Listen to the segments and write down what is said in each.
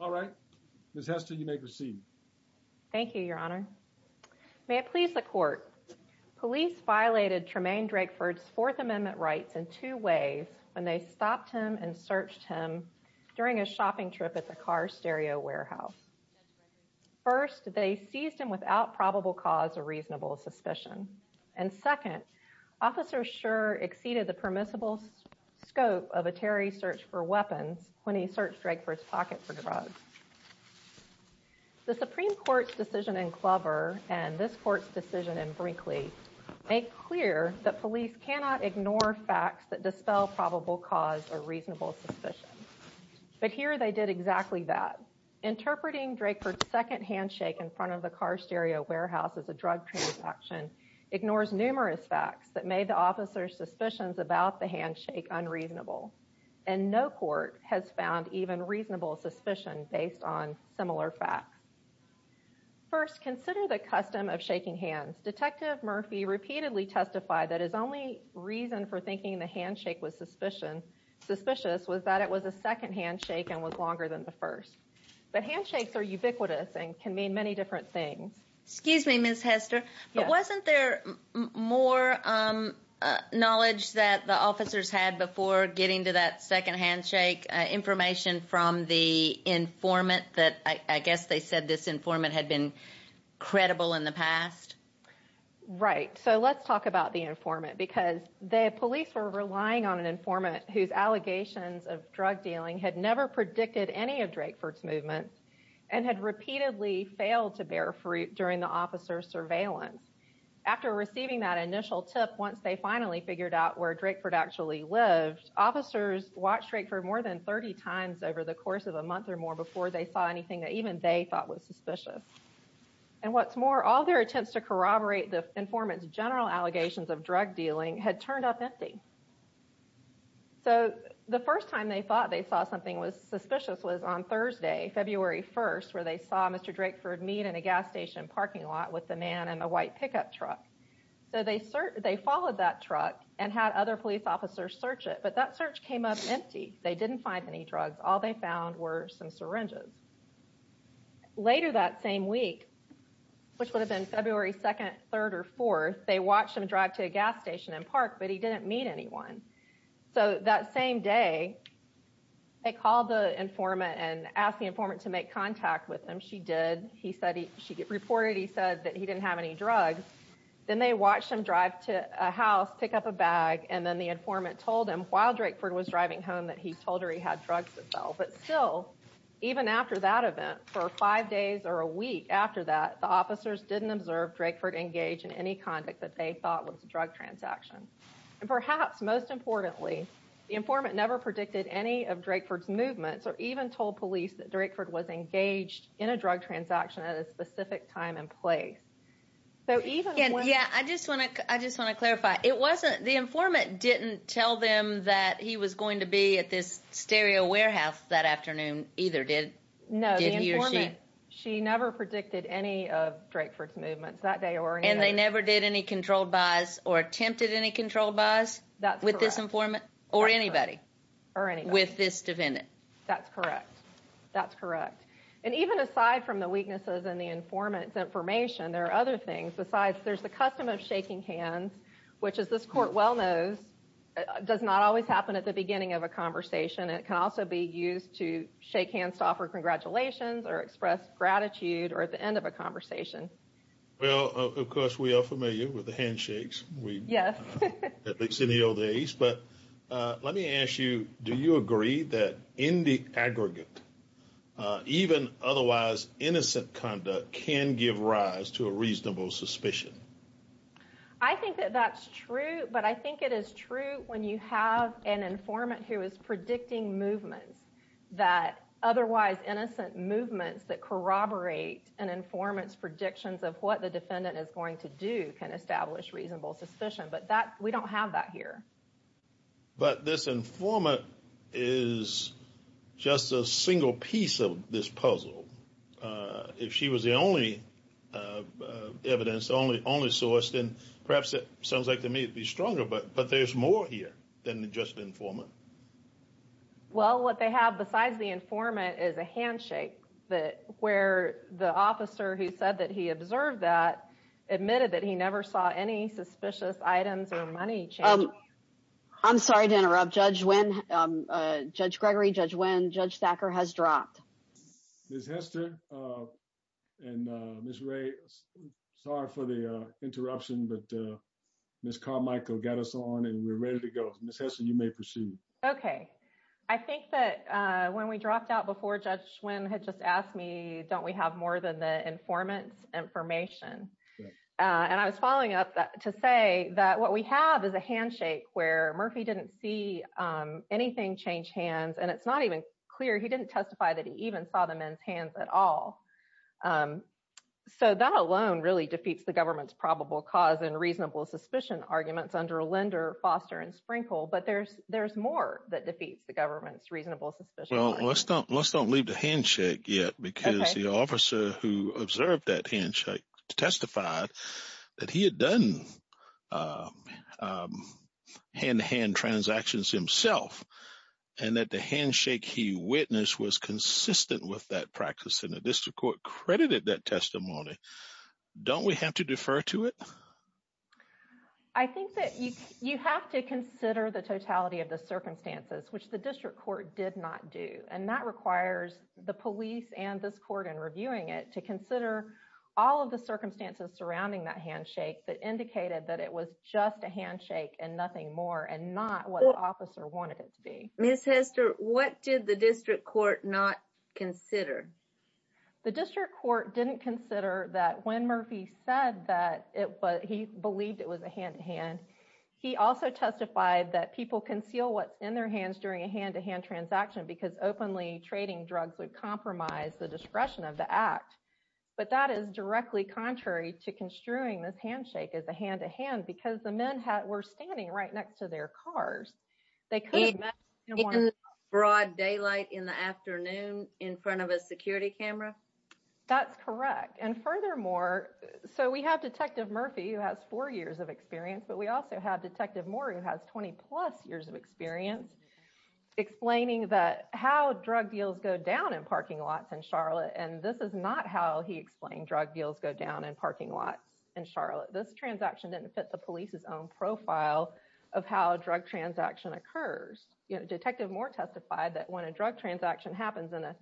All right, Ms. Hester, you may proceed. Thank you, Your Honor. May it please the court. Police violated Tremayne Drakeford's Fourth Amendment rights in two ways when they stopped him and searched him during a shopping trip at the car stereo warehouse. First, they seized him without probable cause or reasonable suspicion. And second, Officer Schur exceeded the permissible scope of a terrorist search for weapons when he searched Drakeford's pocket for drugs. The Supreme Court's decision in Clover and this court's decision in Brinkley make clear that police cannot ignore facts that dispel probable cause or reasonable suspicion. But here they did exactly that. Interpreting Drakeford's second handshake in front of the car stereo warehouse as a drug transaction ignores numerous facts that made the officer's and no court has found even reasonable suspicion based on similar facts. First, consider the custom of shaking hands. Detective Murphy repeatedly testified that his only reason for thinking the handshake was suspicious was that it was a second handshake and was longer than the first. But handshakes are ubiquitous and can mean many different things. Excuse me, Ms. Hester, but wasn't there more knowledge that the officers had before getting to that second handshake information from the informant that I guess they said this informant had been credible in the past? Right. So let's talk about the informant because the police were relying on an informant whose allegations of drug dealing had never predicted any of Drakeford's movements and had repeatedly failed to bear fruit during the officer's surveillance. After receiving that initial tip, once they finally figured out where Drakeford actually lived, officers watched Drakeford more than 30 times over the course of a month or more before they saw anything that even they thought was suspicious. And what's more, all their attempts to corroborate the informant's general allegations of drug dealing had turned up empty. So the first time they thought they saw something suspicious was on Thursday, February 1st, where they saw Mr. Drakeford meet in a gas station parking lot with the man in the white pickup truck. So they followed that truck and had other police officers search it, but that search came up empty. They didn't find any drugs. All they found were some syringes. Later that same week, which would have been February 2nd, 3rd, or 4th, they watched him drive to a gas station and park, but he didn't meet anyone. So that same day, they called the informant and asked the informant to make contact with him. She did. She reported he said that he didn't have any drugs. Then they watched him drive to a house, pick up a bag, and then the informant told him while Drakeford was driving home that he told her he had drugs to sell. But still, even after that event, for five days or a week after that, the officers didn't observe Drakeford engage in any conduct that they thought was a drug transaction. And perhaps most importantly, the informant never predicted any of Drakeford's movements or even told police that Drakeford was engaged in a drug transaction at a specific time and place. So even when... Yeah, I just want to clarify. The informant didn't tell them that he was going to be at this stereo warehouse that afternoon either, did he or she? No, the informant, she never predicted any of Drakeford's movements that day or any other. And they never did any controlled buys or attempted any controlled buys with this informant or anybody with this defendant? That's correct. That's correct. And even aside from the weaknesses and the informant's information, there are other things besides there's the custom of shaking hands, which as this court well knows, does not always happen at the beginning of a conversation. It can also be used to shake hands to offer congratulations or express gratitude or at the end of a conversation. Well, of course, we are familiar with the handshakes, at least in the old days. But let me ask you, do you agree that in the aggregate, even otherwise innocent conduct can give rise to a reasonable suspicion? I think that that's true, but I think it is true when you have an informant who is predicting movements that otherwise innocent movements that corroborate an informant's predictions of what the defendant is going to do can establish reasonable suspicion. But we don't have that here. But this informant is just a single piece of this puzzle. If she was the only evidence, the only source, then perhaps it sounds like they may be stronger, but there's more here than just the informant. Well, what they have besides the informant is a handshake where the officer who said that he observed that admitted that he never saw any suspicious items or money change. I'm sorry to interrupt. Judge Gregory, Judge Wynn, Judge Thacker has dropped. Ms. Hester and Ms. Ray, sorry for the interruption, but Ms. Carmichael got us on and we're ready to go. Ms. Hester, you may proceed. Okay. I think that when we dropped out before, Judge Wynn had just asked me, don't we have more than the informant's information? And I was following up to say that what we have is a handshake where Murphy didn't see anything change hands, and it's not even clear, he didn't testify that he even saw the men's hands at all. So that alone really defeats the but there's more that defeats the government's reasonable suspicion. Well, let's don't leave the handshake yet because the officer who observed that handshake testified that he had done hand-to-hand transactions himself and that the handshake he witnessed was consistent with that practice and the district court credited that testimony. Don't we have to defer to it? I think that you have to consider the totality of the circumstances, which the district court did not do. And that requires the police and this court in reviewing it to consider all of the circumstances surrounding that handshake that indicated that it was just a handshake and nothing more and not what the officer wanted it to be. Ms. Hester, what did the district court not consider? The district court didn't consider that when Murphy said that he believed it was a hand-to-hand, he also testified that people conceal what's in their hands during a hand-to-hand transaction because openly trading drugs would compromise the discretion of the act. But that is directly contrary to construing this handshake as a hand-to-hand because the men were standing right next to their cars. They could have met in broad daylight in the afternoon in front of a security camera. That's correct. And furthermore, so we have Detective Murphy who has four years of experience, but we also have Detective Moore who has 20 plus years of experience explaining that how drug deals go down in parking lots in Charlotte. And this is not how he explained drug deals go down in parking lots in Charlotte. This transaction didn't fit the police's own profile of how a drug transaction occurs. Detective Moore testified that when a drug transaction happens in a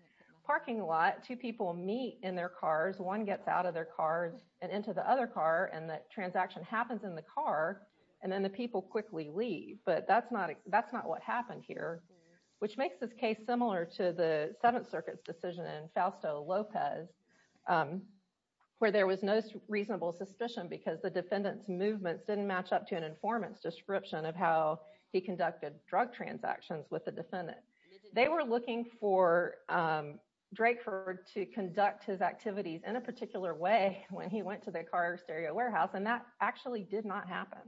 parking lot, two people meet in their cars, one gets out of their cars and into the other car and that transaction happens in the car and then the people quickly leave. But that's not what happened here, which makes this case similar to the Seventh Circuit's decision in Fausto Lopez where there was no reasonable suspicion because the defendant's movements didn't match up to an description of how he conducted drug transactions with the defendant. They were looking for Drakeford to conduct his activities in a particular way when he went to the car stereo warehouse and that actually did not happen.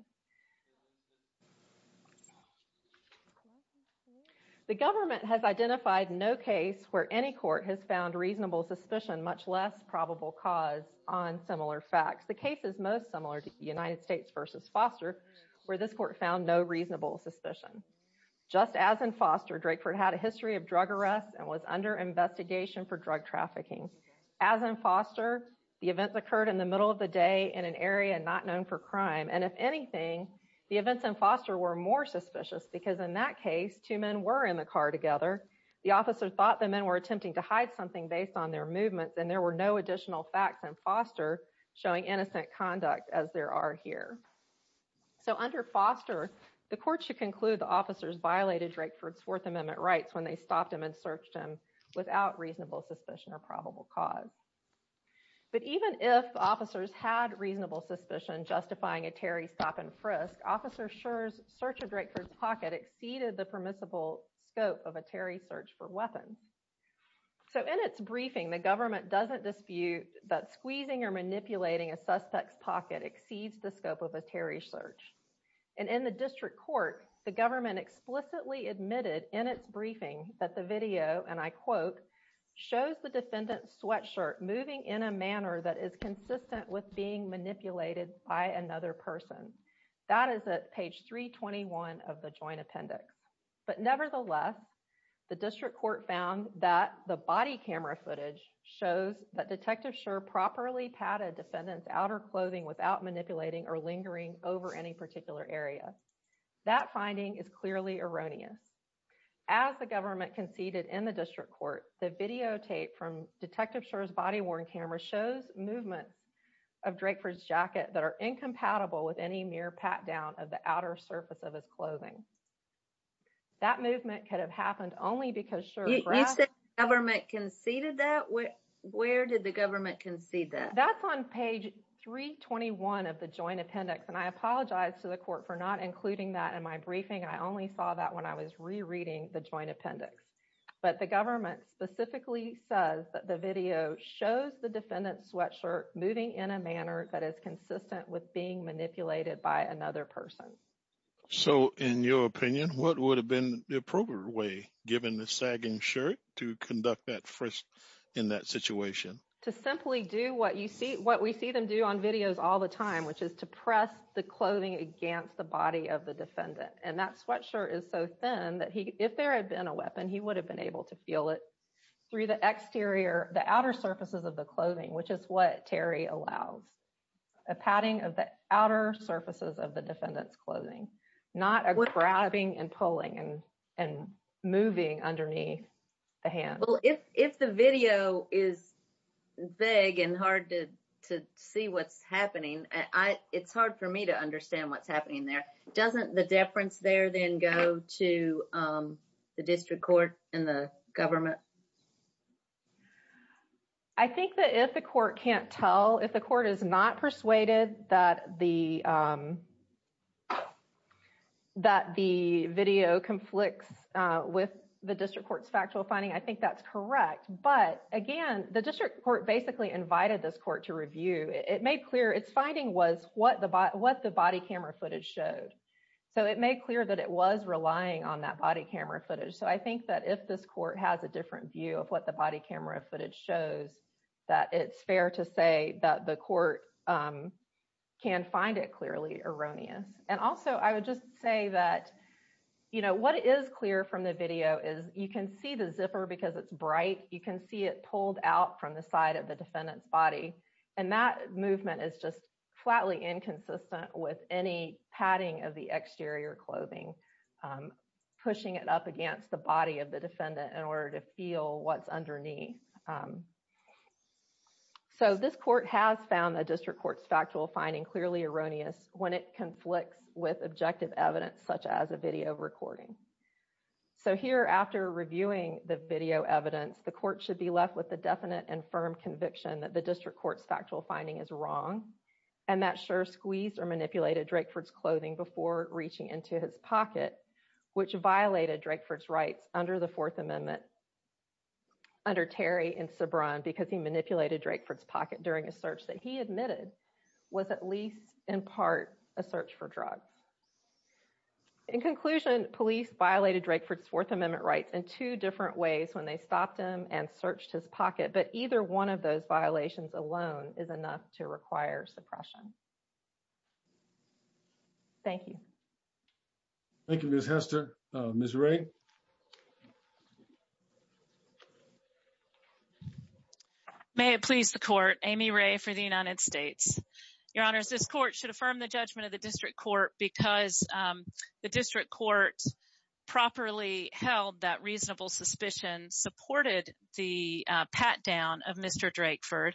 The government has identified no case where any court has found reasonable suspicion, much less probable cause, on similar facts. The case is most similar to the United States versus Foster where this court found no reasonable suspicion. Just as in Foster, Drakeford had a history of drug arrests and was under investigation for drug trafficking. As in Foster, the events occurred in the middle of the day in an area not known for crime and if anything, the events in Foster were more suspicious because in that case, two men were in the car together. The officer thought the men were attempting to hide something based on their movements and there were no additional facts in Foster showing innocent conduct as there are here. So under Foster, the court should conclude the officers violated Drakeford's Fourth Amendment rights when they stopped him and searched him without reasonable suspicion or probable cause. But even if officers had reasonable suspicion justifying a Terry stop-and-frisk, Officer Scherr's search of Drakeford's pocket exceeded the permissible scope of a Terry search for weapons. So in its briefing, the government doesn't dispute that squeezing or manipulating a suspect's pocket exceeds the scope of a Terry search. And in the district court, the government explicitly admitted in its briefing that the video, and I quote, shows the defendant's sweatshirt moving in a manner that is consistent with being manipulated by another person. That is at page 321 of the joint appendix. But nevertheless, the district without manipulating or lingering over any particular area. That finding is clearly erroneous. As the government conceded in the district court, the videotape from Detective Scherr's body-worn camera shows movements of Drakeford's jacket that are incompatible with any mere pat-down of the outer surface of his clothing. That movement could have happened only because Scherr- You said the government conceded that? Where did the government concede that? That's on page 321 of the joint appendix. And I apologize to the court for not including that in my briefing. I only saw that when I was rereading the joint appendix. But the government specifically says that the video shows the defendant's sweatshirt moving in a manner that is consistent with being manipulated by another person. So in your opinion, what would have been the appropriate way given the sagging shirt to conduct that first in that situation? To simply do what we see them do on videos all the time, which is to press the clothing against the body of the defendant. And that sweatshirt is so thin that if there had been a weapon, he would have been able to feel it through the exterior, the outer surfaces of the clothing, which is what Terry allows. A padding of the outer surfaces of the defendant's clothing, not a grabbing and pulling and moving underneath the hand. If the video is vague and hard to see what's happening, it's hard for me to understand what's happening there. Doesn't the deference there then go to the district court and the government? I think that if the court can't tell, if the court is not persuaded that the video conflicts with the district court's factual finding, I think that's correct. But again, the district court basically invited this court to review. It made clear its finding was what the body camera footage showed. So it made clear that it was relying on that body camera footage. So I think that if this court has a different view of what the body camera footage shows, that it's fair to say that the court can find it clearly erroneous. And also I would just say that what is clear from the video is you can see the zipper because it's bright. You can see it pulled out from the side of the defendant's body. And that movement is just flatly inconsistent with any padding of the exterior clothing, pushing it up against the body of the defendant in order to feel what's underneath. So this court has found the district court's factual finding clearly erroneous when it conflicts with objective evidence such as a video recording. So here, after reviewing the video evidence, the court should be left with the definite and firm conviction that the district court's factual finding is wrong. And that Scherr squeezed or manipulated Drakeford's clothing before reaching into his pocket, which violated Drakeford's rights under the Fourth Amendment under Terry and Sobran because he manipulated Drakeford's pocket during a search that he admitted was at least in part a search for drugs. In conclusion, police violated Drakeford's Fourth Amendment rights in two different ways when they stopped him and searched his pocket. But either one of those violations alone is enough to require suppression. Thank you. Thank you, Ms. Hester. Ms. Wray. Thank you. May it please the court, Amy Wray for the United States. Your Honors, this court should affirm the judgment of the district court because the district court properly held that reasonable suspicion, supported the pat-down of Mr. Drakeford,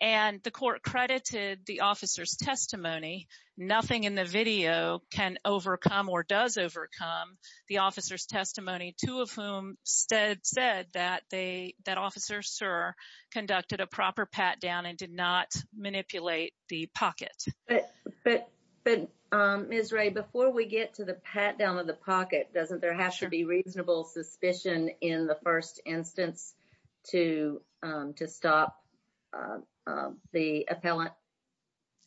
and the court credited the officer's testimony. Nothing in the video can overcome or does overcome the officer's testimony, two of whom said that Officer Scherr conducted a proper pat-down and did not manipulate the pocket. But Ms. Wray, before we get to the pat-down of the pocket, doesn't there have to be reasonable suspicion in the first instance to stop the appellant?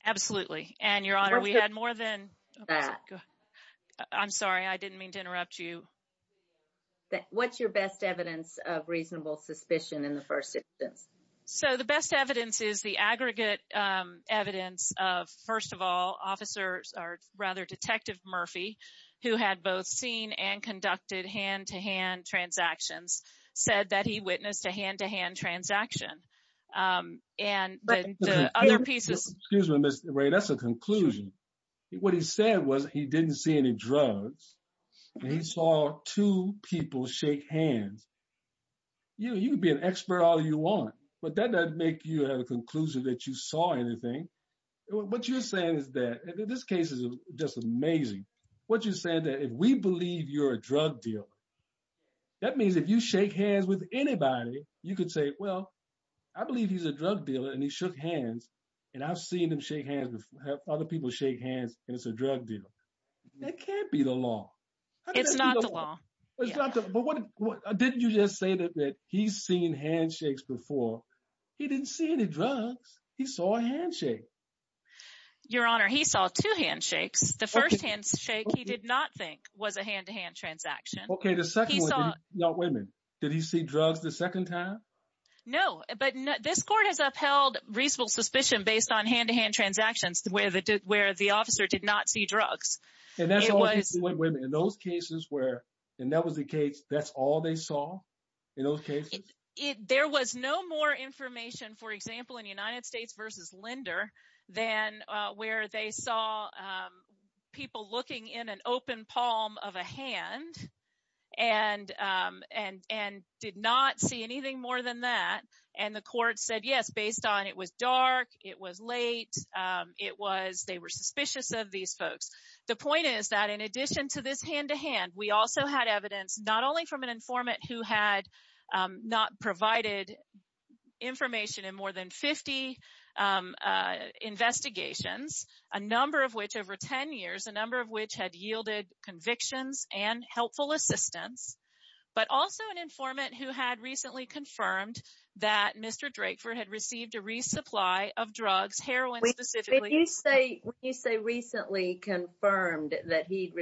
Absolutely. And, Your Honor, we had more than that. I'm sorry. I didn't mean to interrupt you. What's your best evidence of reasonable suspicion in the first instance? So, the best evidence is the aggregate evidence of, first of all, Detective Murphy, who had both seen and conducted hand-to-hand transactions, said that he witnessed a hand-to-hand transaction. And the other pieces... Excuse me, Ms. Wray. That's a conclusion. What he said was he didn't see any drugs. He saw two people shake hands. You can be an expert all you want, but that doesn't make you have a conclusion that you saw anything. What you're saying is that... This case is just amazing. What you're saying is that if we believe you're a drug dealer, that means if you shake hands with anybody, you could say, well, I believe he's a drug dealer, and he shook hands, and I've seen him shake hands, have other people shake hands, and it's a drug deal. That can't be the law. It's not the law. But didn't you just say that he's seen handshakes before? He didn't see any drugs. He saw a handshake. Your Honor, he saw two handshakes. The first handshake he did not think was a hand-to-hand transaction. Okay. The second one, now wait a minute. Did he see drugs the second time? No, but this court has upheld reasonable suspicion based on hand-to-hand transactions where the officer did not see drugs. And that's all he saw in those cases where, and that was the case, that's all they saw in those cases? There was no more information, for example, in United States versus Linder than where they saw people looking in an open palm of a hand and did not see anything more than that. And the court said, yes, based on it was dark, it was late, they were suspicious of these folks. The point is that in addition to this hand-to-hand, we also had evidence, not only from an informant who had not provided information in more than 50 investigations, a number of which over 10 years, a number of which had yielded convictions and helpful assistance, but also an informant who had recently confirmed that Mr. Drakeford had received a resupply of drugs, heroin specifically. When you say recently confirmed that he'd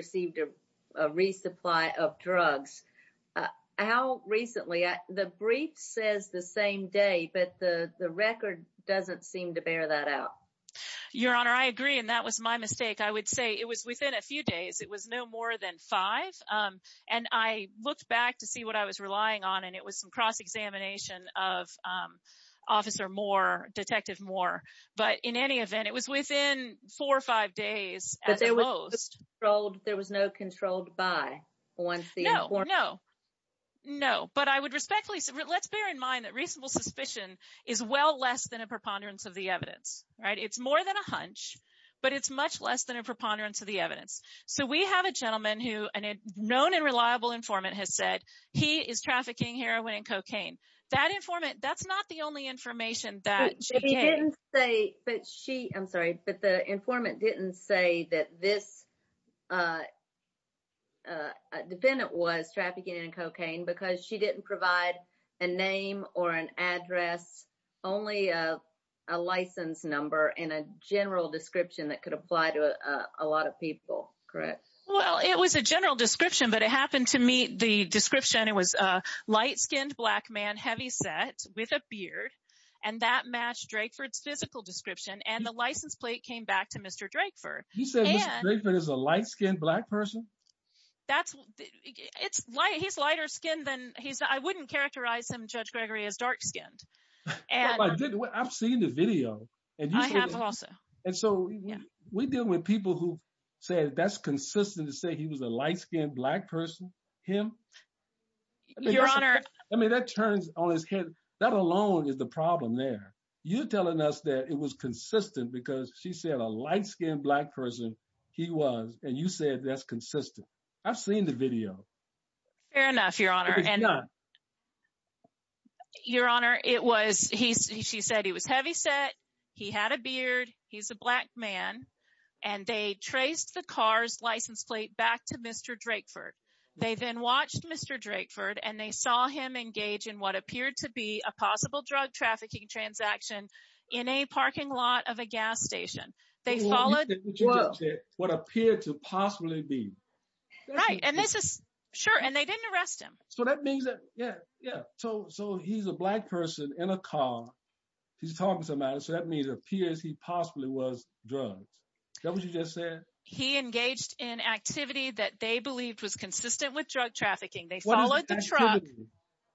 resupply of drugs, how recently? The brief says the same day, but the record doesn't seem to bear that out. Your Honor, I agree. And that was my mistake. I would say it was within a few days, it was no more than five. And I looked back to see what I was relying on, and it was some cross-examination of Officer Moore, Detective Moore. But in any event, it was within four or five days at the most. But there was no controlled by once the informant- No, no, no. But I would respectfully say, let's bear in mind that reasonable suspicion is well less than a preponderance of the evidence, right? It's more than a hunch, but it's much less than a preponderance of the evidence. So, we have a gentleman who, and a known and reliable informant has said, he is trafficking heroin and cocaine. That informant, that's not the only information that she gave. But he didn't say, but she, I'm sorry, but the informant didn't say that this defendant was trafficking in cocaine because she didn't provide a name or an address, only a license number and a general description that could apply to a lot of people, correct? Well, it was a general description, but it happened to meet the description. It was a light-skinned black man, heavy set with a beard, and that matched Drakeford's physical description. And the license plate came back to Mr. Drakeford. He said, Mr. Drakeford is a light-skinned black person? He's lighter skinned than he's, I wouldn't characterize him, Judge Gregory, as dark-skinned. I've seen the video. I have also. And so, we're dealing with people who've said that's consistent to say he was a light-skinned black person, him. Your Honor. I mean, that turns on his head. That alone is the problem there. You're telling us that it was consistent because she said a light-skinned black person he was, and you said that's consistent. I've seen the video. Fair enough, Your Honor. Your Honor, it was, she said he was heavy set, he had a beard, he's a black man, and they traced the car's license plate back to Mr. Drakeford. They then watched Mr. Drakeford, and they saw him engage in what appeared to be a possible drug trafficking transaction in a parking lot of a gas station. They followed- What appeared to possibly be. Right, and this is, sure, and they didn't arrest him. So, that means that, yeah, yeah. So, he's a black person in a car. He's talking to somebody, so that means it appears he possibly was drugged. Is that what you just said? He engaged in activity that they believed was consistent with drug trafficking. They followed the truck.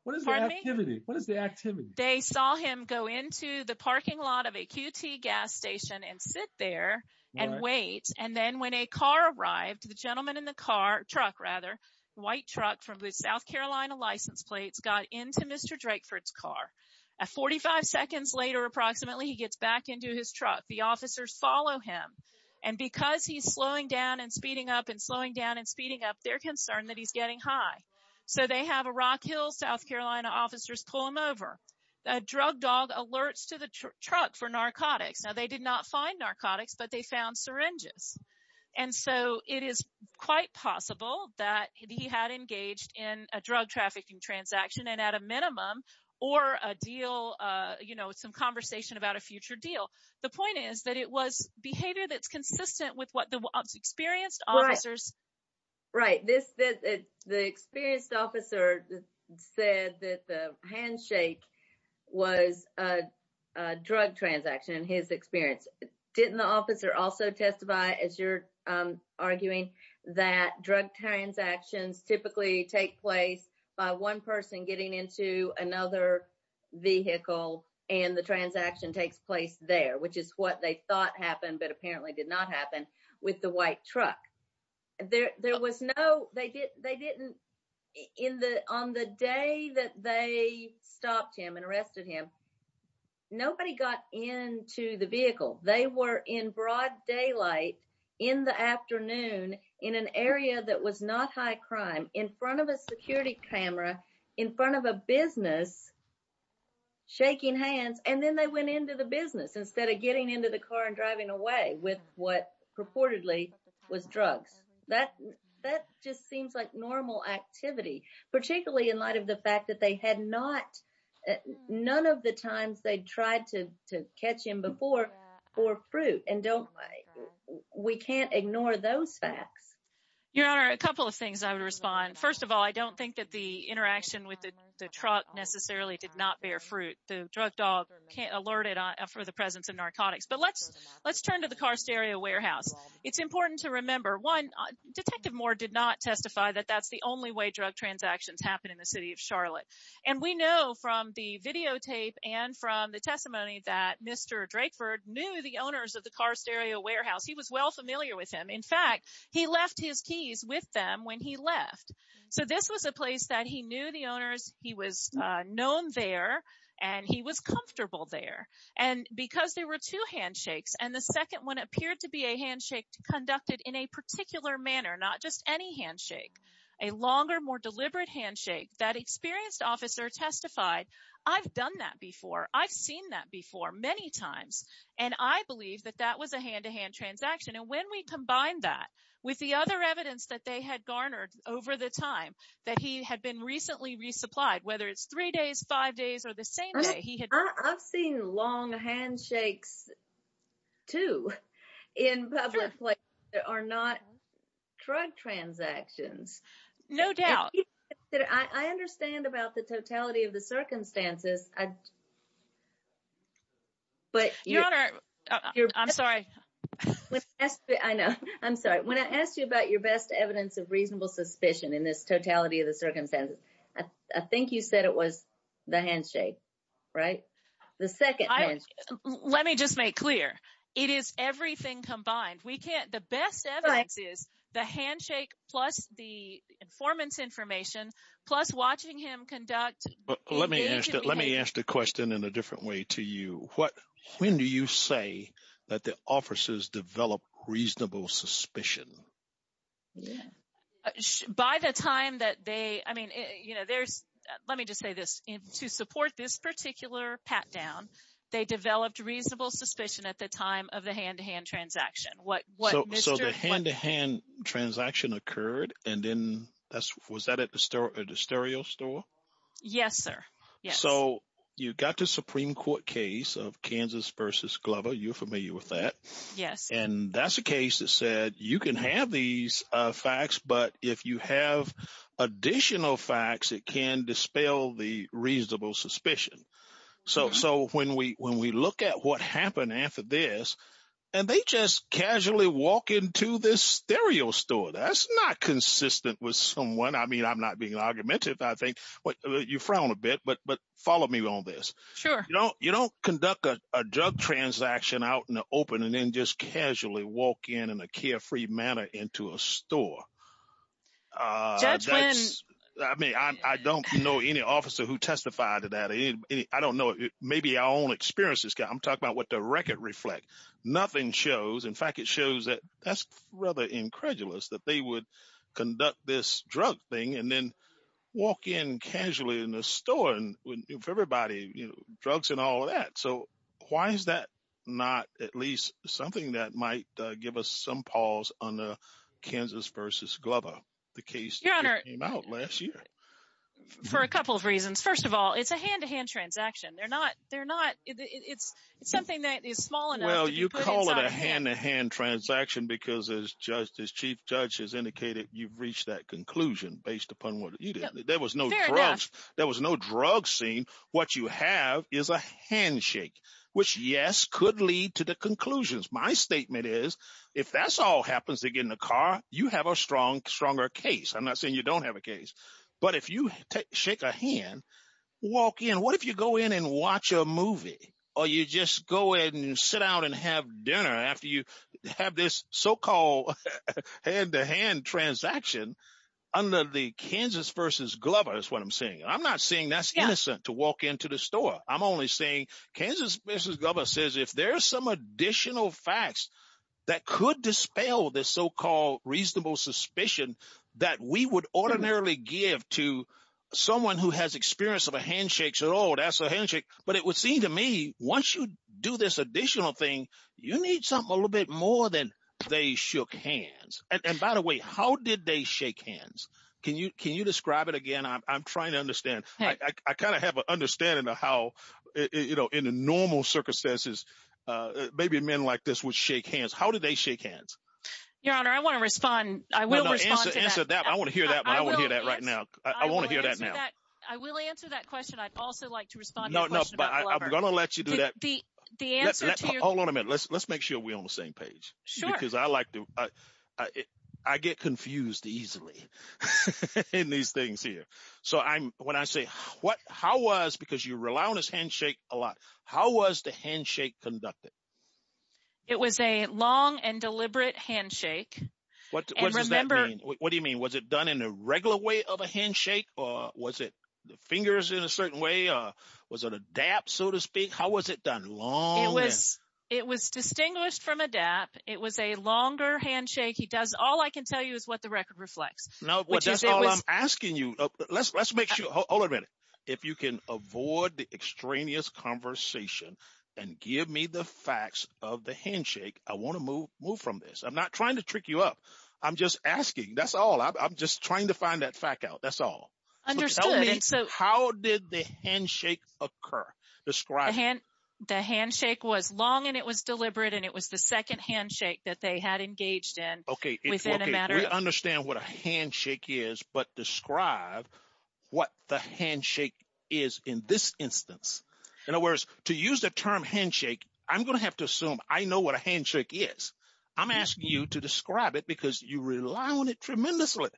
What is the activity? Pardon me? What is the activity? They saw him go into the parking lot of a QT gas station and sit there and wait, and then when a car arrived, the gentleman in the car, truck rather, white truck from the South Carolina license plates got into Mr. Drakeford's car. Forty-five seconds later, approximately, he gets back into his truck. The officers follow him, and because he's slowing down and speeding up and slowing down and speeding up, they're concerned that he's getting high. So, they have a Rock Hill, South Carolina officers pull him over. A drug dog alerts to the truck for narcotics. Now, they did not find narcotics, but they found syringes. And so, it is quite possible that he had engaged in a drug trafficking transaction and at a minimum or a deal, you know, some conversation about a future deal. The point is that it was behavior that's consistent with what the experienced officers. Right. The experienced officer said that the handshake was a drug transaction in his experience. Didn't the officer also testify, as you're arguing, that drug transactions typically take place one person getting into another vehicle and the transaction takes place there, which is what they thought happened, but apparently did not happen with the white truck. On the day that they stopped him and arrested him, nobody got into the vehicle. They were in broad in front of a business, shaking hands, and then they went into the business instead of getting into the car and driving away with what purportedly was drugs. That just seems like normal activity, particularly in light of the fact that they had not none of the times they tried to catch him before for fruit. And don't we can't ignore those facts. Your Honor, a couple of things I would respond. First of all, I don't think that the interaction with the truck necessarily did not bear fruit. The drug dog can't alert it for the presence of narcotics. But let's let's turn to the car stereo warehouse. It's important to remember one. Detective Moore did not testify that that's the only way drug transactions happen in the city of Charlotte. And we know from the videotape and from the testimony that Mr. Drakeford knew the owners of the car stereo warehouse. He was well familiar with him. In fact, he left his keys with them when he left. So this was a place that he knew the owners. He was known there and he was comfortable there. And because there were two handshakes and the second one appeared to be a handshake conducted in a particular manner, not just any handshake, a longer, more deliberate handshake, that experienced officer testified. I've done that before. I've seen that before many times. And I believe that that was a hand to hand transaction. And when we combine that with the other evidence that they had garnered over the time that he had been recently resupplied, whether it's three days, five days or the same day, he had. I've seen long handshakes, too, in public places that are not drug transactions. No doubt that I understand about the totality of the circumstances. But I'm sorry. I know. I'm sorry. When I asked you about your best evidence of reasonable suspicion in this totality of the circumstances, I think you said it was the handshake, right? The second. Let me just make clear. It is everything combined. We can't. The best evidence is the handshake plus the informant's information, plus watching him conduct. Let me ask that. Let me ask the question in a different way to you. What? When do you say that the officers develop reasonable suspicion? By the time that they I mean, you know, there's let me just say this to support this particular pat down. They developed reasonable suspicion at the time of the hand to hand transaction. So the hand to hand transaction occurred. And then that's was that at the stereo store? Yes, sir. So you got the Supreme Court case of Kansas versus Glover. You're familiar with that. Yes. And that's a case that said you can have these facts. But if you have additional facts, it can dispel the reasonable suspicion. So so when we when we look at what happened after this and they just casually walk into this stereo store, that's not consistent with someone. I mean, I'm not being argumentative. I think you frown a bit. But but follow me on this. Sure. You know, you don't conduct a drug transaction out in the open and then just casually walk in in a carefree manner into a store. That's when I mean, I don't know any officer who testified to that. I don't know. Maybe our own experiences. I'm talking about the record reflect. Nothing shows. In fact, it shows that that's rather incredulous that they would conduct this drug thing and then walk in casually in the store and everybody drugs and all of that. So why is that not at least something that might give us some pause on the Kansas versus Glover? The case came out last year for a couple of reasons. First of all, it's a hand to hand transaction. They're not they're not. It's it's something that is small. Well, you call it a hand to hand transaction because as just as chief judge has indicated, you've reached that conclusion based upon what you did. There was no drugs. There was no drug scene. What you have is a handshake, which, yes, could lead to the conclusions. My statement is if that's all happens to get in the car, you have a strong, stronger case. I'm not saying you don't have a case, but if you shake a hand, walk in, what if you go in and watch a movie or you just go in and sit out and have dinner after you have this so-called hand to hand transaction under the Kansas versus Glover? That's what I'm saying. I'm not saying that's innocent to walk into the store. I'm only saying Kansas versus Glover says if there's some additional facts that could dispel this so-called reasonable suspicion that we would ordinarily give to someone who has experience of a handshake at all, that's a handshake. But it would seem to me once you do this additional thing, you need something a little bit more than they shook hands. And by the way, how did they shake hands? Can you can you describe it again? I'm trying to understand. I kind of have an understanding of how, you know, in the normal circumstances, maybe men like this would shake hands. How did they hands? Your Honor, I want to respond. I will respond to that. I want to hear that. I want to hear that right now. I want to hear that now. I will answer that question. I'd also like to respond. No, no. But I'm going to let you do that. The the answer. Hold on a minute. Let's make sure we're on the same page. Sure. Because I like to I get confused easily in these things here. So I'm when I say what how was because you rely on his handshake a lot. How was the handshake conducted? It was a long and deliberate handshake. What does that mean? What do you mean? Was it done in a regular way of a handshake? Or was it the fingers in a certain way? Or was it a DAP, so to speak? How was it done long? It was it was distinguished from a DAP. It was a longer handshake. He does. All I can tell you is what the record reflects. No, that's all I'm asking you. Let's the facts of the handshake. I want to move move from this. I'm not trying to trick you up. I'm just asking. That's all. I'm just trying to find that fact out. That's all. Understood. How did the handshake occur? Describe hand. The handshake was long and it was deliberate and it was the second handshake that they had engaged in. OK, we understand what a handshake is, but describe what the handshake is in this instance. In other words, to use the term handshake, I'm going to have to assume I know what a handshake is. I'm asking you to describe it because you rely on it tremendously.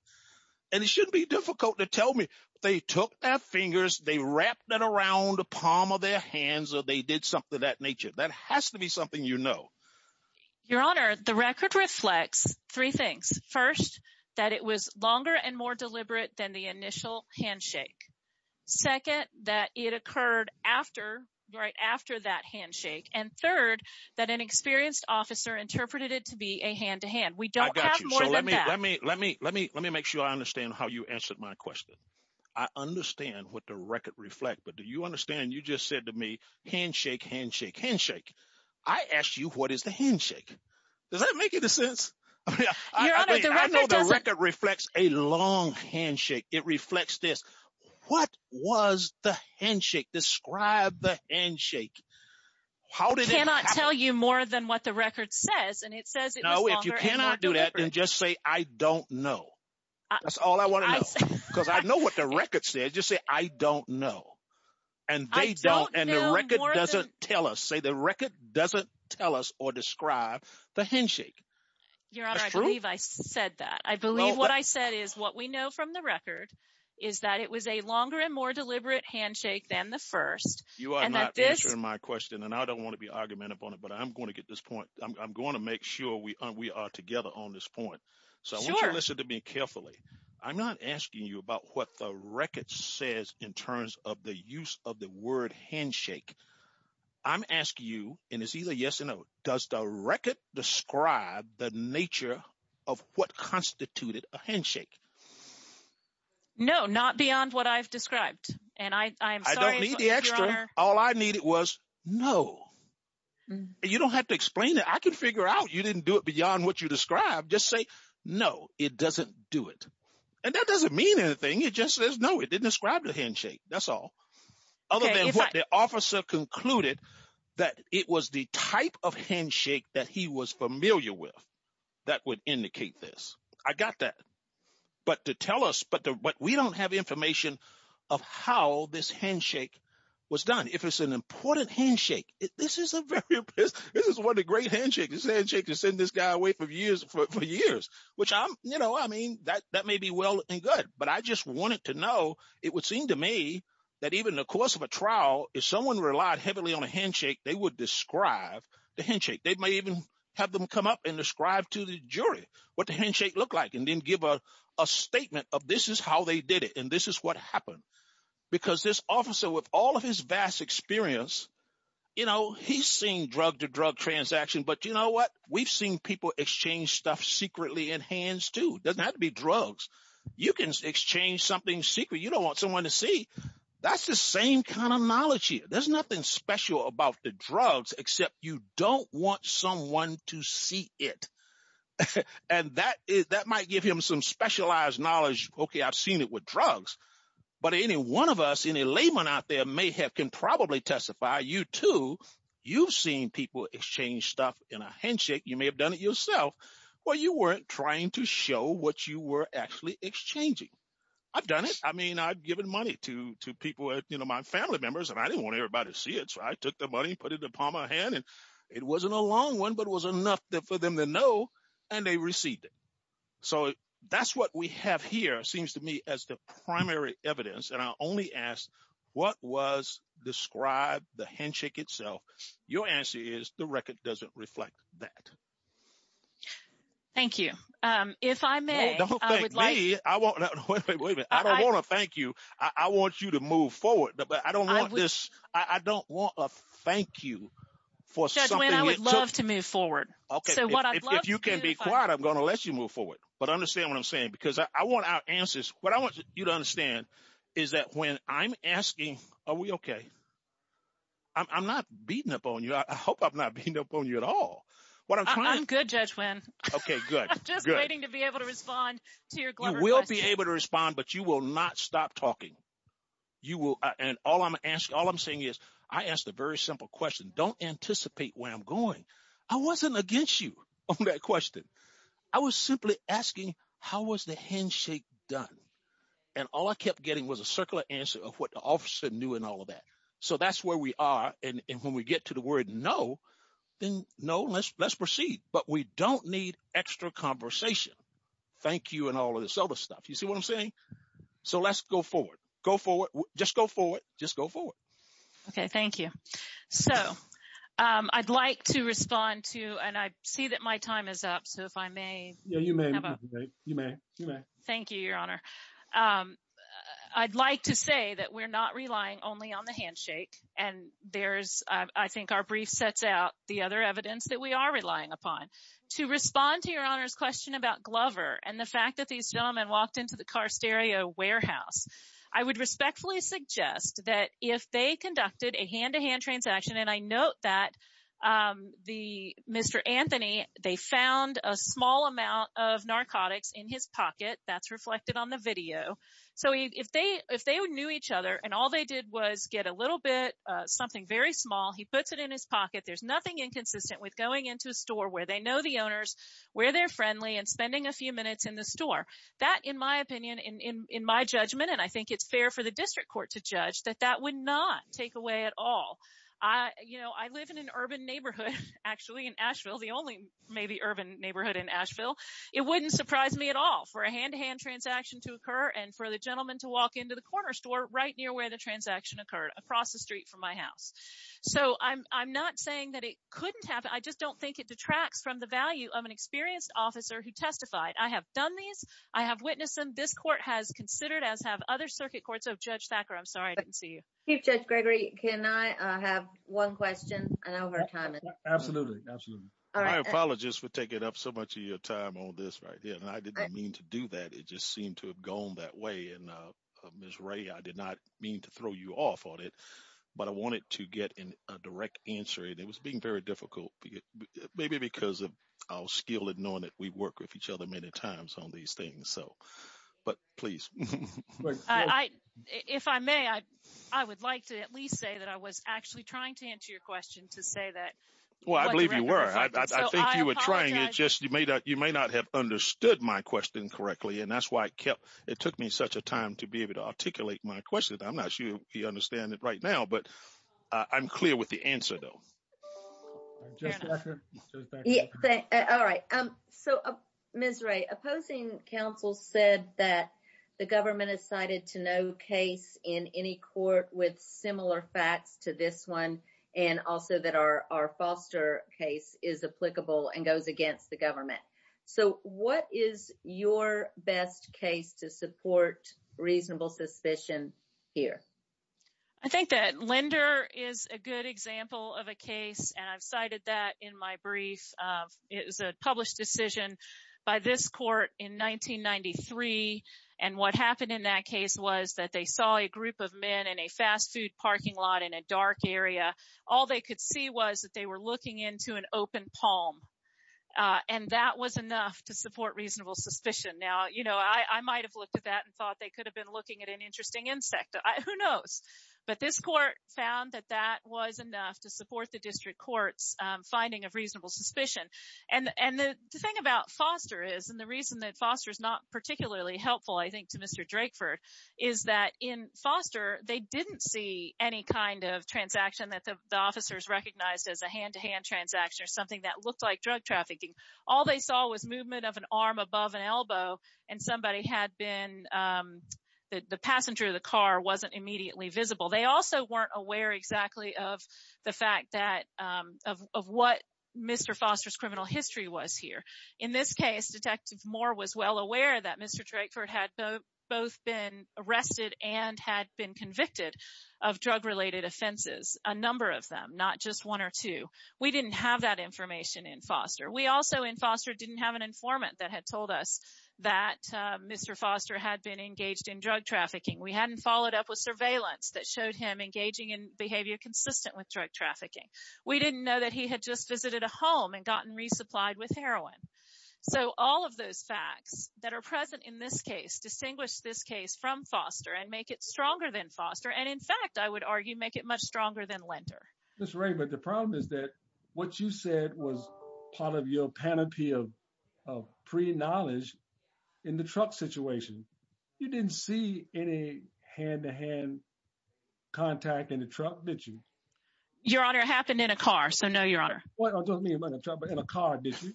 And it shouldn't be difficult to tell me they took their fingers, they wrapped that around the palm of their hands or they did something of that nature. That has to be something, you know. Your Honor, the record reflects three things. First, that it was longer and more deliberate than the initial handshake. Second, that it occurred after right after that handshake. And third, that an experienced officer interpreted it to be a hand to hand. We don't have more than that. Let me let me let me let me make sure I understand how you answered my question. I understand what the record reflect. But do you understand you just said to me, handshake, handshake, handshake. I asked you, what is the handshake? Does that make any sense? I know the record reflects a long handshake. It reflects this. What was the handshake? Describe the handshake. How did it happen? I cannot tell you more than what the record says. And it says it was longer and more deliberate. No, if you cannot do that, then just say I don't know. That's all I want to know. Because I know what the record said. Just say I don't know. And they don't. And the record doesn't tell us. Say the record doesn't tell us or describe the handshake. Your Honor, I believe I said that. I believe what I said is what we know from the record is that it was a longer and more deliberate handshake than the first. You are not answering my question and I don't want to be argumentative on it, but I'm going to get this point. I'm going to make sure we we are together on this point. So listen to me carefully. I'm not asking you about what the record says in terms of the use of the word handshake. I'm asking you, and it's either yes or no, does the record describe the nature of what constituted a handshake? No, not beyond what I've described. And I am sorry, Your Honor. I don't need the extra. All I needed was no. You don't have to explain it. I can figure out you didn't do it beyond what you described. Just say no, it doesn't do it. And that doesn't mean anything. It just says, no, it didn't describe the handshake. That's all. Other than what the officer concluded that it was the type of handshake that he was familiar with that would indicate this. I got that. But to tell us, but we don't have information of how this handshake was done. If it's an important handshake, this is a very, this is one of the great handshakes. It's a handshake to send this guy away for years, which I'm, you know, I mean, that may be well and good, but I just wanted to know, it would seem to me that even the course of a trial, if someone relied heavily on a handshake, they would describe the handshake. They might even have them come up and describe to the jury what the handshake looked like, and then give a statement of this is how they did it. And this is what happened. Because this officer with all of his vast experience, you know, he's seen drug to drug transaction, but you know what? We've seen people exchange stuff secretly in hands too. It doesn't have to be drugs. You can exchange something secret. You don't want someone to see. That's the same kind of knowledge here. There's nothing special about the drugs, except you don't want someone to see it. And that might give him some specialized knowledge. Okay. I've seen it with drugs, but any one of us, any layman out there may have, can probably testify you too. You've seen people exchange stuff in a handshake. You may have done it yourself where you weren't trying to show what you were actually exchanging. I've done it. I mean, I've given money to people, you know, my family members, and I didn't want everybody to see it. So I took the money, put it upon my hand, and it wasn't a long one, but it was enough for them to know, and they received it. So that's what we have here seems to me as the primary evidence. And I only asked what was described the handshake itself. Your answer is the record doesn't reflect that. Thank you. If I may, I don't want to thank you. I want you to move forward, but I don't want this. I don't want a thank you for something. I would love to move forward. Okay. If you can be quiet, I'm going to let you move forward, but understand what I'm saying, because I want our answers. What I want you to understand is that when I'm asking, are we okay? I'm not beating up on you. I hope I'm not beating up on you at all. I'm good, Judge Nguyen. I'm just waiting to be able to respond to your clever question. You will be able to respond, but you will not stop talking. All I'm saying is, I asked a very simple question. Don't anticipate where I'm going. I wasn't against you on that question. I was simply asking, how was the handshake done? And all I kept getting was a circular answer of what the officer knew and all of that. So, that's where we are. And when we get to the word no, then no, let's proceed. But we don't need extra conversation. Thank you and all of this other stuff. You see what I'm saying? So, let's go forward. Go forward. Just go forward. Just go forward. Okay. Thank you. So, I'd like to respond to, and I see that my time is up. So, if I may. Yeah, you may. You may. You may. Thank you, Your Honor. I'd like to say that we're not relying only on the handshake. And I think our brief sets out the other evidence that we are relying upon. To respond to Your Honor's question about Glover and the fact that these gentlemen walked into the car stereo warehouse, I would respectfully suggest that if they conducted a hand-to-hand transaction, and I note that Mr. Anthony, they found a small amount of narcotics in his pocket. That's reflected on the video. So, if they knew each other, and all they did was get a little bit, something very small, he puts it in his pocket. There's nothing inconsistent with going into a store where they know the owners, where they're friendly, and spending a few minutes in the store. That, in my opinion, in my judgment, and I think it's fair for the district court to judge, that that would not take away at all. I live in an urban neighborhood in Asheville. It wouldn't surprise me at all for a hand-to-hand transaction to occur and for the gentleman to walk into the corner store right near where the transaction occurred, across the street from my house. So, I'm not saying that it couldn't happen. I just don't think it detracts from the value of an experienced officer who testified. I have done these. I have witnessed them. This court has considered, as have other circuit courts. Oh, Judge Thacker, I'm sorry I didn't see you. Chief Judge Gregory, can I have one question? And over time. Absolutely. Absolutely. My apologies for taking up so much of your time on this right here. And I didn't mean to do that. It just seemed to have gone that way. And Ms. Ray, I did not mean to throw you off on it, but I wanted to get a direct answer. And it was being very difficult, maybe because of our skill at knowing that we work with each other many times on these things. So, but please. If I may, I would like to at least say that I was actually trying to answer your question to say that. Well, I believe you were. I think you were trying. It's just you may not have understood my question correctly. And that's why it took me such a time to be able to articulate my question. I'm not sure you understand it right now, but I'm clear with the answer though. All right. So, Ms. Ray, opposing counsel said that the government has cited to no case in any court with similar facts to this one. And also that our foster case is applicable and goes against the government. So, what is your best case to support reasonable suspicion here? I think that Lender is a good example of a case. And I've cited that in my brief. It was a published decision by this court in 1993. And what happened in that case was that they saw a group of men in a fast food parking lot in a dark area. All they could see was that they were looking into an open palm. And that was enough to support reasonable suspicion. Now, you know, I might have looked at that and thought they could have been looking at an interesting insect. Who knows? But this court found that that was enough to support the district court's finding of reasonable suspicion. And the thing about foster is, and the reason that foster is not particularly helpful, I think, to Mr. Drakeford is that in foster, they didn't see any kind of transaction that the officers recognized as a hand-to-hand transaction or something that looked like drug trafficking. All they saw was movement of an arm above an elbow and somebody had been, the passenger of the car wasn't immediately visible. They also weren't aware exactly of the fact that, of what Mr. Foster's criminal history was here. In this case, Detective Moore was well aware that Mr. Drakeford had both been arrested and had been convicted of drug-related offenses, a number of them, not just one or two. We didn't have that information in foster. We also in foster didn't have an informant that had told us that Mr. Foster had been engaged in drug trafficking. We hadn't followed up with surveillance that showed him engaging in behavior consistent with drug trafficking. We didn't know that he had just visited a home and gotten resupplied with heroin. So all of those facts that are present in this case distinguish this case from foster and make it stronger than foster. And in fact, I would argue, make it much stronger than lender. Mr. Drakeford, the problem is that what you said was part of your panoply of pre-knowledge in the truck situation. You didn't see any hand-to-hand contact in the truck, did you? Your Honor, it happened in a car. So no, Your Honor. What? I don't mean in a truck, but in a car, did you?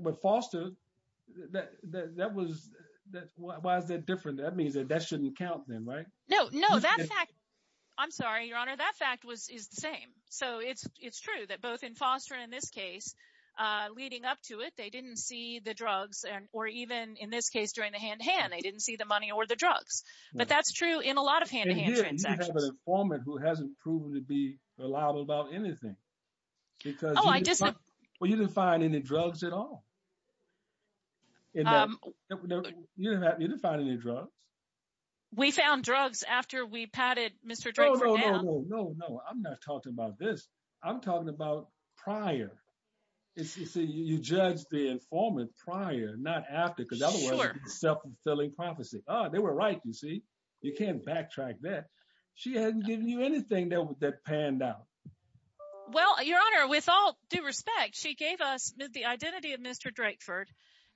But foster, that was, why is that different? That means that that shouldn't count then, right? No, no, that fact, I'm sorry, Your Honor, that fact is the same. So it's true that both in foster and in this case, leading up to it, they didn't see the drugs or even in this case during the hand-to-hand, they didn't see the money or the drugs. But that's true in a lot of hand-to-hand transactions. And here, you have an informant who hasn't proven to be reliable about anything. Because you didn't find any drugs at all. You didn't find any drugs. We found drugs after we patted Mr. Drakeford down. No, no, no, no, no, no. I'm not talking about this. I'm talking about prior. You judge the informant prior, not after, because otherwise it's a self-fulfilling prophecy. Oh, they were right, you see? You can't backtrack that. She hasn't given you anything that panned out. Well, Your Honor, with all due respect, she gave us the identity of Mr. Drakeford,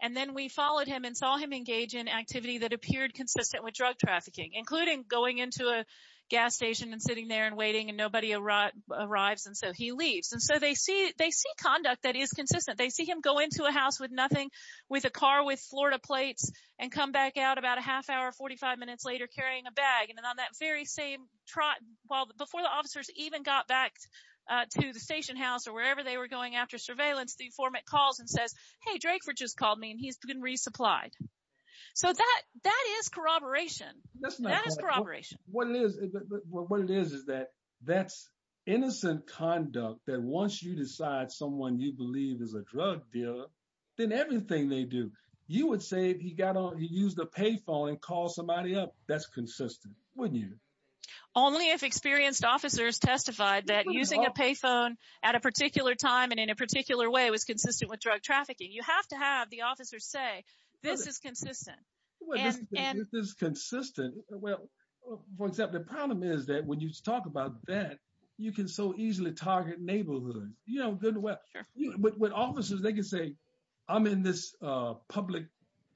and then we followed him and saw him engage in activity that appeared consistent with drug trafficking, including going into a gas station and sitting there and waiting and nobody arrives and so he leaves. And so they see conduct that is consistent. They see him go into a house with a car with Florida plates and come back out about a half hour, 45 minutes later carrying a bag. And then on that very same trot, well, before the officers even got back to the station house or wherever they were going after surveillance, the informant calls and says, hey, Drakeford just called me and he's been resupplied. So that is corroboration. That is corroboration. What it is is that that's innocent conduct that once you decide someone you believe is a drug dealer, then everything they do, you would say he got on, he used the payphone and called somebody up. That's consistent, wouldn't you? Only if experienced officers testified that using a payphone at a particular time and in a particular way was consistent with drug trafficking. You have to have the officers say, this is consistent. Well, this is consistent. Well, for example, the problem is that when you talk about that, you can so easily target neighborhoods. You know, with officers, they can say, I'm in this public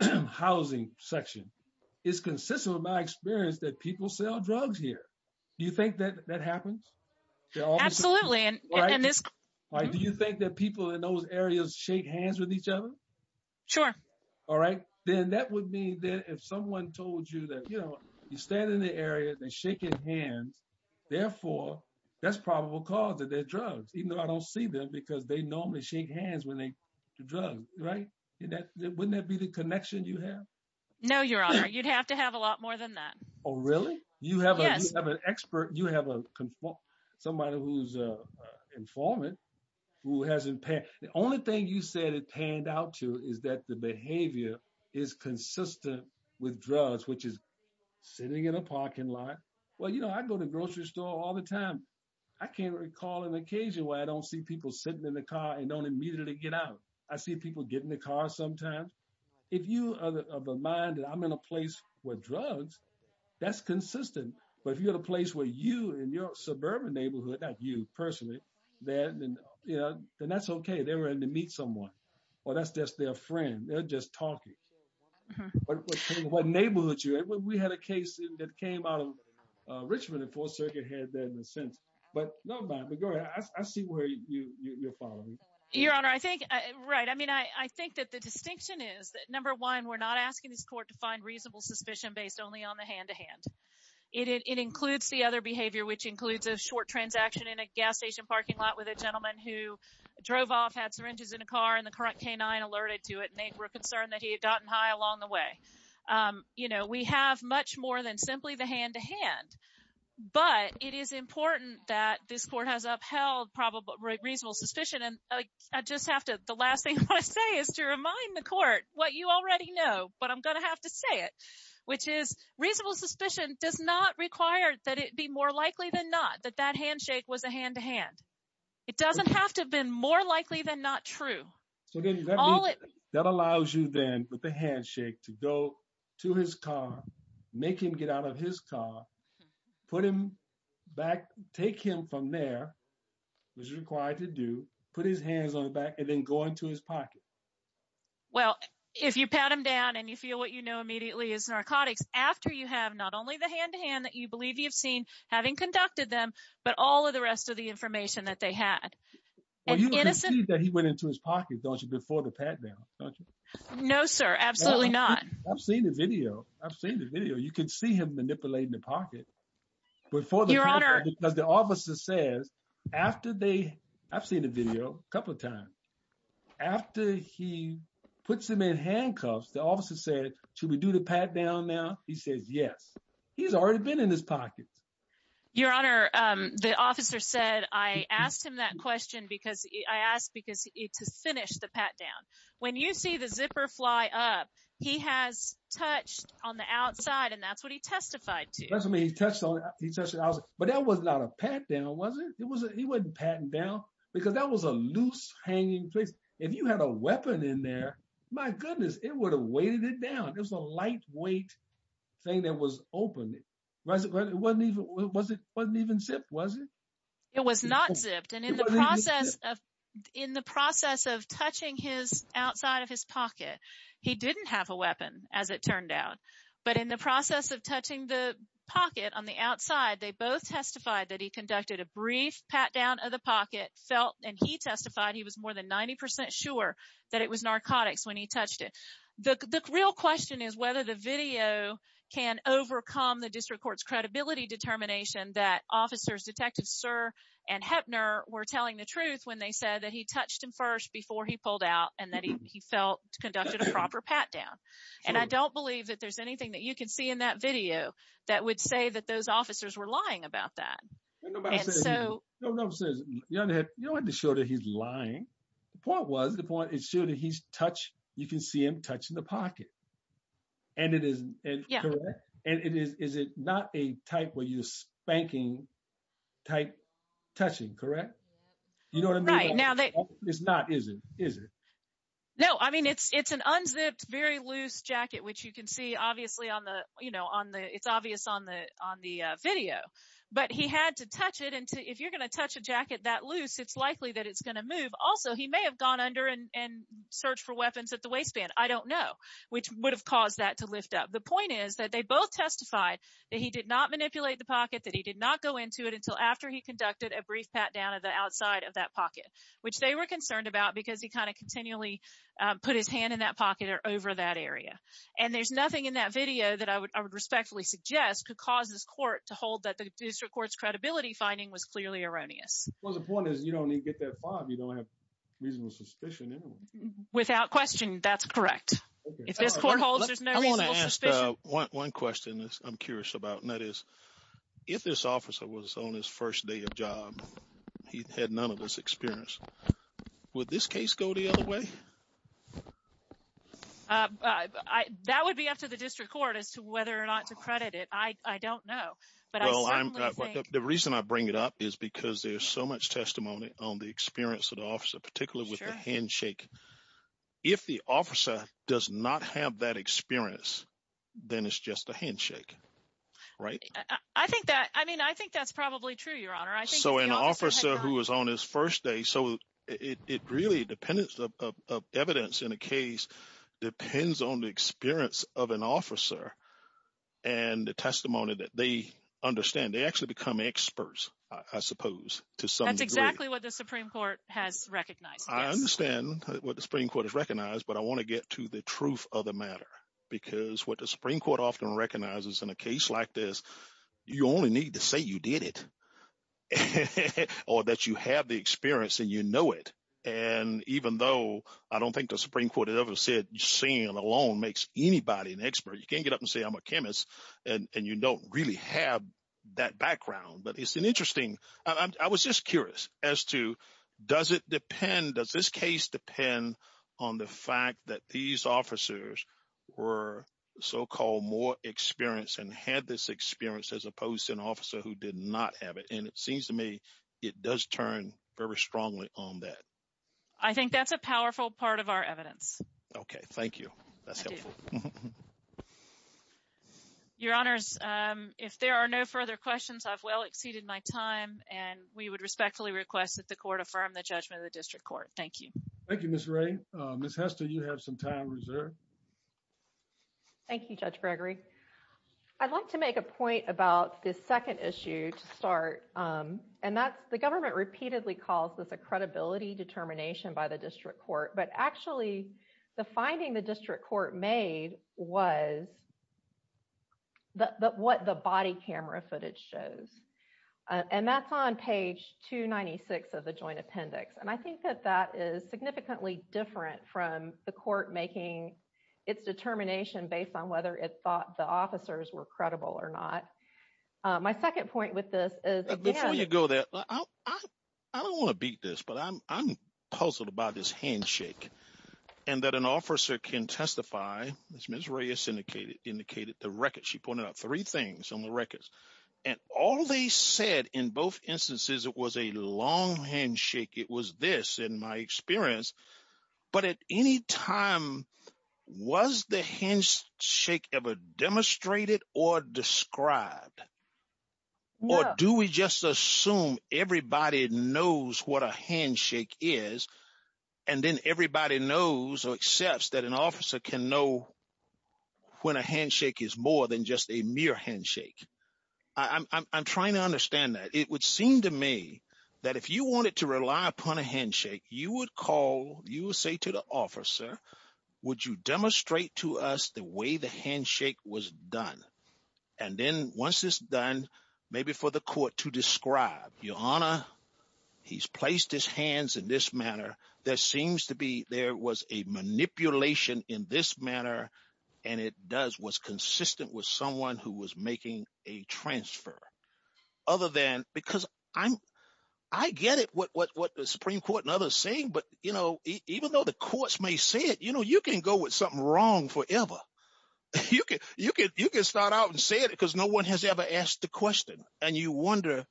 housing section. It's consistent with my experience that people sell drugs here. Do you think that that happens? Absolutely. And do you think that people in those areas shake hands with each other? Sure. All right. Then that would mean that if someone told you that, you know, you stand in the area, they're shaking hands. Therefore, that's because they normally shake hands when they do drugs, right? Wouldn't that be the connection you have? No, your honor, you'd have to have a lot more than that. Oh, really? You have an expert, you have a conform, somebody who's a informant who hasn't paid. The only thing you said it panned out to is that the behavior is consistent with drugs, which is sitting in a parking lot. Well, I go to the grocery store all the time. I can't recall an occasion where I don't see people sitting in the car and don't immediately get out. I see people get in the car sometimes. If you are of a mind that I'm in a place with drugs, that's consistent. But if you're in a place where you and your suburban neighborhood, not you personally, then that's okay. They're ready to meet someone. Well, that's just their friend. They're just talking. What neighborhood we had a case that came out of Richmond and Fourth Circuit had that in a sense, but I see where you're following. Your honor, I think, right. I mean, I think that the distinction is that number one, we're not asking this court to find reasonable suspicion based only on the hand to hand. It includes the other behavior, which includes a short transaction in a gas station parking lot with a gentleman who drove off, had syringes in a car and the current canine alerted and they were concerned that he had gotten high along the way. We have much more than simply the hand to hand, but it is important that this court has upheld reasonable suspicion. And I just have to, the last thing I want to say is to remind the court what you already know, but I'm going to have to say it, which is reasonable suspicion does not require that it be more likely than not that that handshake was a hand to hand. It doesn't have to have been more likely than not true. That allows you then with the handshake to go to his car, make him get out of his car, put him back, take him from there, which is required to do, put his hands on the back and then go into his pocket. Well, if you pat him down and you feel what you know immediately is narcotics after you have not only the hand to hand that you believe you've seen having conducted them, but all of the rest of the information that they had. Well, you can see that he went into his No, sir. Absolutely not. I've seen the video. I've seen the video. You can see him manipulating the pocket before the officer says after they I've seen a video a couple of times after he puts him in handcuffs. The officer said, should we do the pat down now? He says, yes, he's already been in his pocket. Your honor. The officer said, I asked him that question because I asked because to finish the pat down. When you see the zipper fly up, he has touched on the outside and that's what he testified to. But that was not a pat down, was it? He wasn't patting down because that was a loose hanging place. If you had a weapon in there, my goodness, it would have weighted it down. It was a lightweight thing that was open. It wasn't even zipped, was it? It was not zipped. And in the process of in the process of touching his outside of his pocket, he didn't have a weapon as it turned out. But in the process of touching the pocket on the outside, they both testified that he conducted a brief pat down of the pocket felt and he testified he was more than 90 percent sure that it was narcotics when he touched it. The real question is whether the video can overcome the district court's credibility determination that officers Detective Sir and Heppner were telling the truth when they said that he touched him first before he pulled out and that he felt conducted a proper pat down. And I don't believe that there's anything that you can see in that video that would say that those officers were lying about that. And so, you know, you don't have to show that he's lying. The point was the point is sure that he's touched. You can see him touching the pocket. And it is. Yeah. And it is. Is it not a type where you spanking type touching? Correct. You know what I mean? Right now, that is not. Is it? Is it? No, I mean, it's it's an unzipped, very loose jacket, which you can see, obviously, on the you know, on the it's obvious on the on the video. But he had to touch it. And if you're going to touch a jacket that loose, it's likely that it's going to move. Also, he may have gone under and searched for weapons at the waistband. I don't know which would have caused that to lift up. The point is that they both testified that he did not manipulate the pocket, that he did not go into it until after he conducted a brief pat down of the outside of that pocket, which they were concerned about because he kind of continually put his hand in that pocket or over that area. And there's nothing in that video that I would I would respectfully suggest could cause this court to hold that the district court's credibility finding was clearly erroneous. Well, the point is, you don't need to get that without question. That's correct. If this court holds, there's no one question I'm curious about. And that is if this officer was on his first day of job, he had none of this experience. Would this case go the other way? That would be up to the district court as to whether or not to credit it. I don't know. But the reason I bring it up is because there's so much testimony on the experience of the officer, particularly with the handshake. If the officer does not have that experience, then it's just a handshake. Right. I think that I mean, I think that's probably true, Your Honor. So an officer who was on his first day. So it really depends of evidence in a case depends on the experience of an officer and the testimony that they understand. They actually become experts, I suppose, to some degree. That's exactly what the Supreme Court has recognized. I understand what the Supreme Court has recognized, but I want to get to the truth of the matter, because what the Supreme Court often recognizes in a case like this, you only need to say you did it or that you have the experience and you know it. And even though I don't think the Supreme Court ever said saying alone makes anybody an expert, you can't get up and say I'm a chemist and you don't really have that background. But it's an interesting, I was just curious as to does it depend, does this case depend on the fact that these officers were so-called more experienced and had this experience as opposed to an officer who did not have it? And it seems to me, it does turn very strongly on that. I think that's a powerful part of our evidence. Okay, thank you. That's helpful. Your Honors, if there are no further questions, I've well exceeded my time and we would respectfully request that the Court affirm the judgment of the District Court. Thank you. Thank you, Ms. Wray. Ms. Hester, you have some time reserved. Thank you, Judge Gregory. I'd like to make a point about this second issue to start, and that's the government repeatedly calls this a credibility determination by the District Court, but actually the finding the District Court made was what the body camera footage shows. And that's on page 296 of the Joint Appendix. And I think that that is significantly different from the Court making its determination based on whether it thought the officers were credible or not. My second point with this is- Before you go there, I don't want to beat this, but I'm puzzled about this handshake and that an officer can testify, as Ms. Reyes indicated, the record. She pointed out three things on the records. And all they said in both instances, it was a long handshake. It was this, in my experience. But at any time, was the handshake ever demonstrated or described? Yeah. Or do we just assume everybody knows what a handshake is and then everybody knows or accepts that an officer can know when a handshake is more than just a mere handshake? I'm trying to understand that. It would seem to me that if you wanted to rely upon a handshake, you would call, you would say to the officer, would you demonstrate to us the way the handshake was done? And then once it's done, maybe for the court to describe. Your Honor, he's placed his hands in this manner. There seems to be, there was a manipulation in this manner and it does, was consistent with someone who was making a transfer. Other than, because I get it what the Supreme Court and others are saying, but even though the courts may say it, you can go with something wrong forever. You can start out and say it because no one has ever asked the question. And you wonder,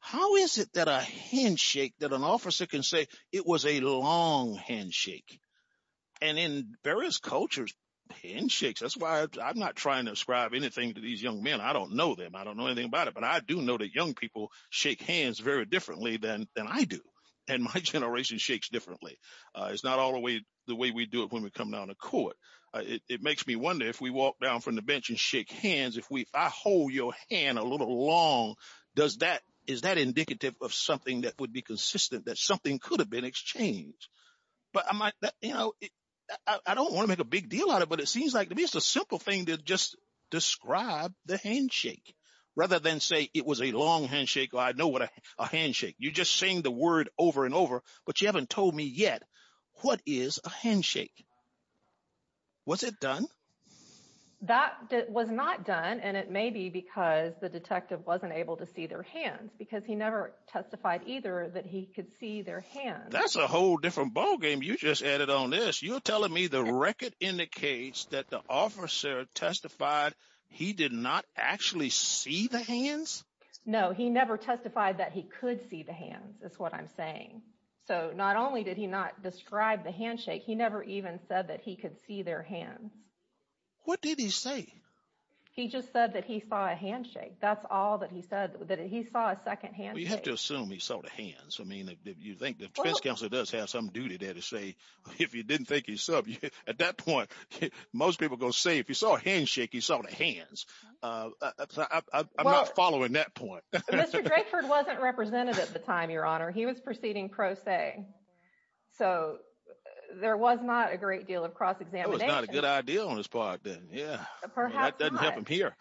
how is it that a handshake that an officer can say it was a long handshake? And in various cultures, handshakes, that's why I'm not trying to ascribe anything to these young men. I don't know them. I don't know anything about it, but I do know that young people shake hands very differently than I do. And my generation shakes differently. It's not all the way, the way we do it when we come down to court. It makes me wonder if we walk down from the bench and shake hands, if I hold your hand a little long, does that, is that indicative of something that would be consistent that something could have been exchanged? But I might, I don't want to make a big deal out of it, but it seems like to me, it's a simple thing to just describe the handshake rather than say it was a long handshake or I know what a handshake. You just saying the word over and over, but you haven't told me yet. What is a handshake? Was it done? That was not done. And it may be because the detective wasn't able to see their hands because he never testified either that he could see their hands. That's a whole different ballgame. You just added on this. You're telling me the record indicates that the officer testified he did not actually see the hands. No, he never testified that he could see the hands is what I'm saying. So not only did he not describe the handshake, he never even said that he could see their hands. What did he say? He just said that he saw a handshake. That's all that he said, that he saw a second hand. You have to assume he saw the hands. I mean, if you think the defense counselor does have some duty there to say, if he didn't think he saw at that point, most people are going to say, if he saw a handshake, he saw the hands. So I'm not following that point. Mr. Drakeford wasn't represented at the time, Your Honor. He was proceeding pro se. So there was not a great deal of cross-examination. It was not a good idea on his part then. Yeah. Perhaps not. That doesn't help him here.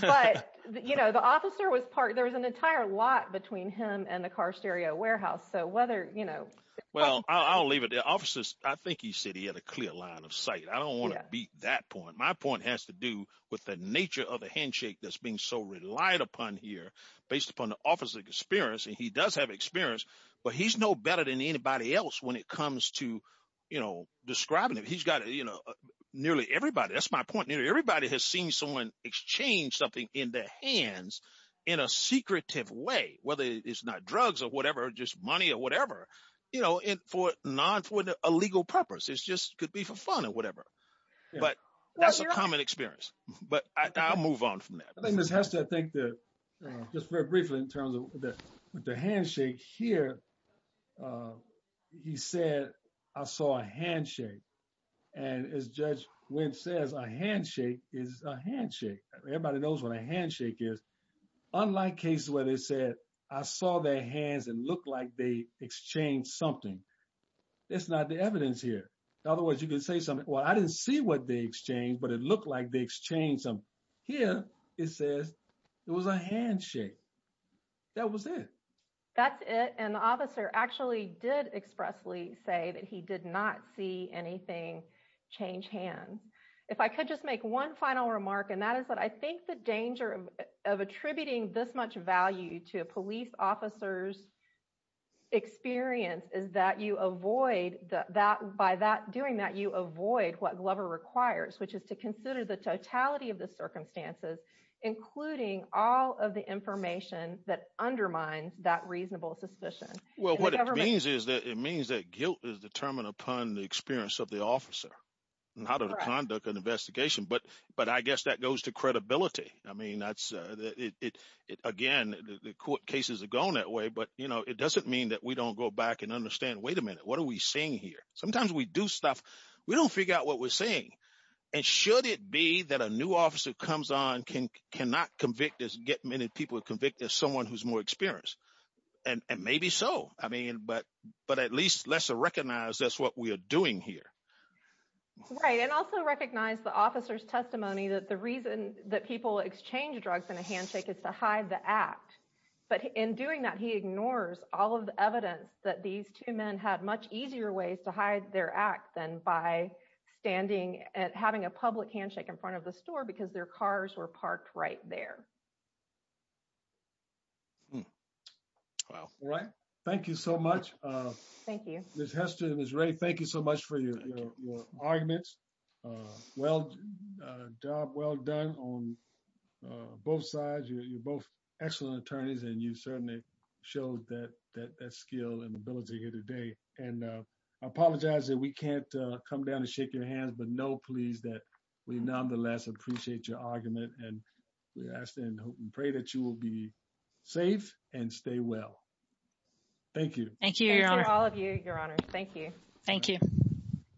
But the officer was part, there was an entire lot between him and the car stereo warehouse. So whether, you know. Well, I'll leave it there. Officers, I think he said he had a clear line of sight. I don't want to beat that point. My point has to do with the nature of the handshake that's being so relied upon here based upon the officer's experience. And he does have experience, but he's no better than anybody else when it comes to, you know, describing him. He's got, you know, nearly everybody, that's my point. Nearly everybody has seen someone exchange something in their hands in a secretive way, whether it's not drugs or whatever, just money or whatever, you know, for a legal purpose. It just could be for fun or whatever. But that's a common experience. But I'll move on from that. I think Ms. Hester, I think that just very briefly in terms of the handshake here, he said, I saw a handshake. And as Judge Wendt says, a handshake is a handshake. Everybody knows what a handshake is. Unlike cases where they said, I saw their hands and looked like they exchanged something. That's not the evidence here. In other words, you could say something, well, I didn't see what they exchanged, but it looked like they exchanged something. Here, it says it was a handshake. That was it. That's it. And the officer actually did expressly say that he did not see anything change hands. If I could just make one final remark, and that is that I think the danger of attributing this much value to a police officer's experience is that by doing that, you avoid what Glover requires, which is to consider the totality of the circumstances, including all of the information that undermines that reasonable suspicion. Well, what it means is that it means that guilt is determined upon the experience of the officer and how to conduct an investigation. But I guess that goes to credibility. I mean, again, the court cases are going that way, but it doesn't mean that we don't go back and understand, wait a minute, what are we seeing here? Sometimes we do stuff, we don't figure out what we're seeing. And should it be that a new officer comes on, cannot convict us, get many people convicted as someone who's more experienced? And maybe so. But at least let's recognize that's what we are doing here. Right. And also recognize the officer's testimony that the reason that people exchange drugs in a handshake is to hide the act. But in doing that, he ignores all of the evidence that these two men had much easier ways to hide their act than by having a public handshake in front of the store because their cars were parked right there. Wow. All right. Thank you so much. Thank you. Ms. Hester, Ms. Ray, thank you so much for your arguments. Well done on both sides. You're both excellent attorneys and you certainly showed that skill and ability here today. And I apologize that we can't come down and shake your hands, but know please that we nonetheless appreciate your argument and we ask and hope and pray that you will be safe and stay well. Thank you. Thank you, your honor. Thank you.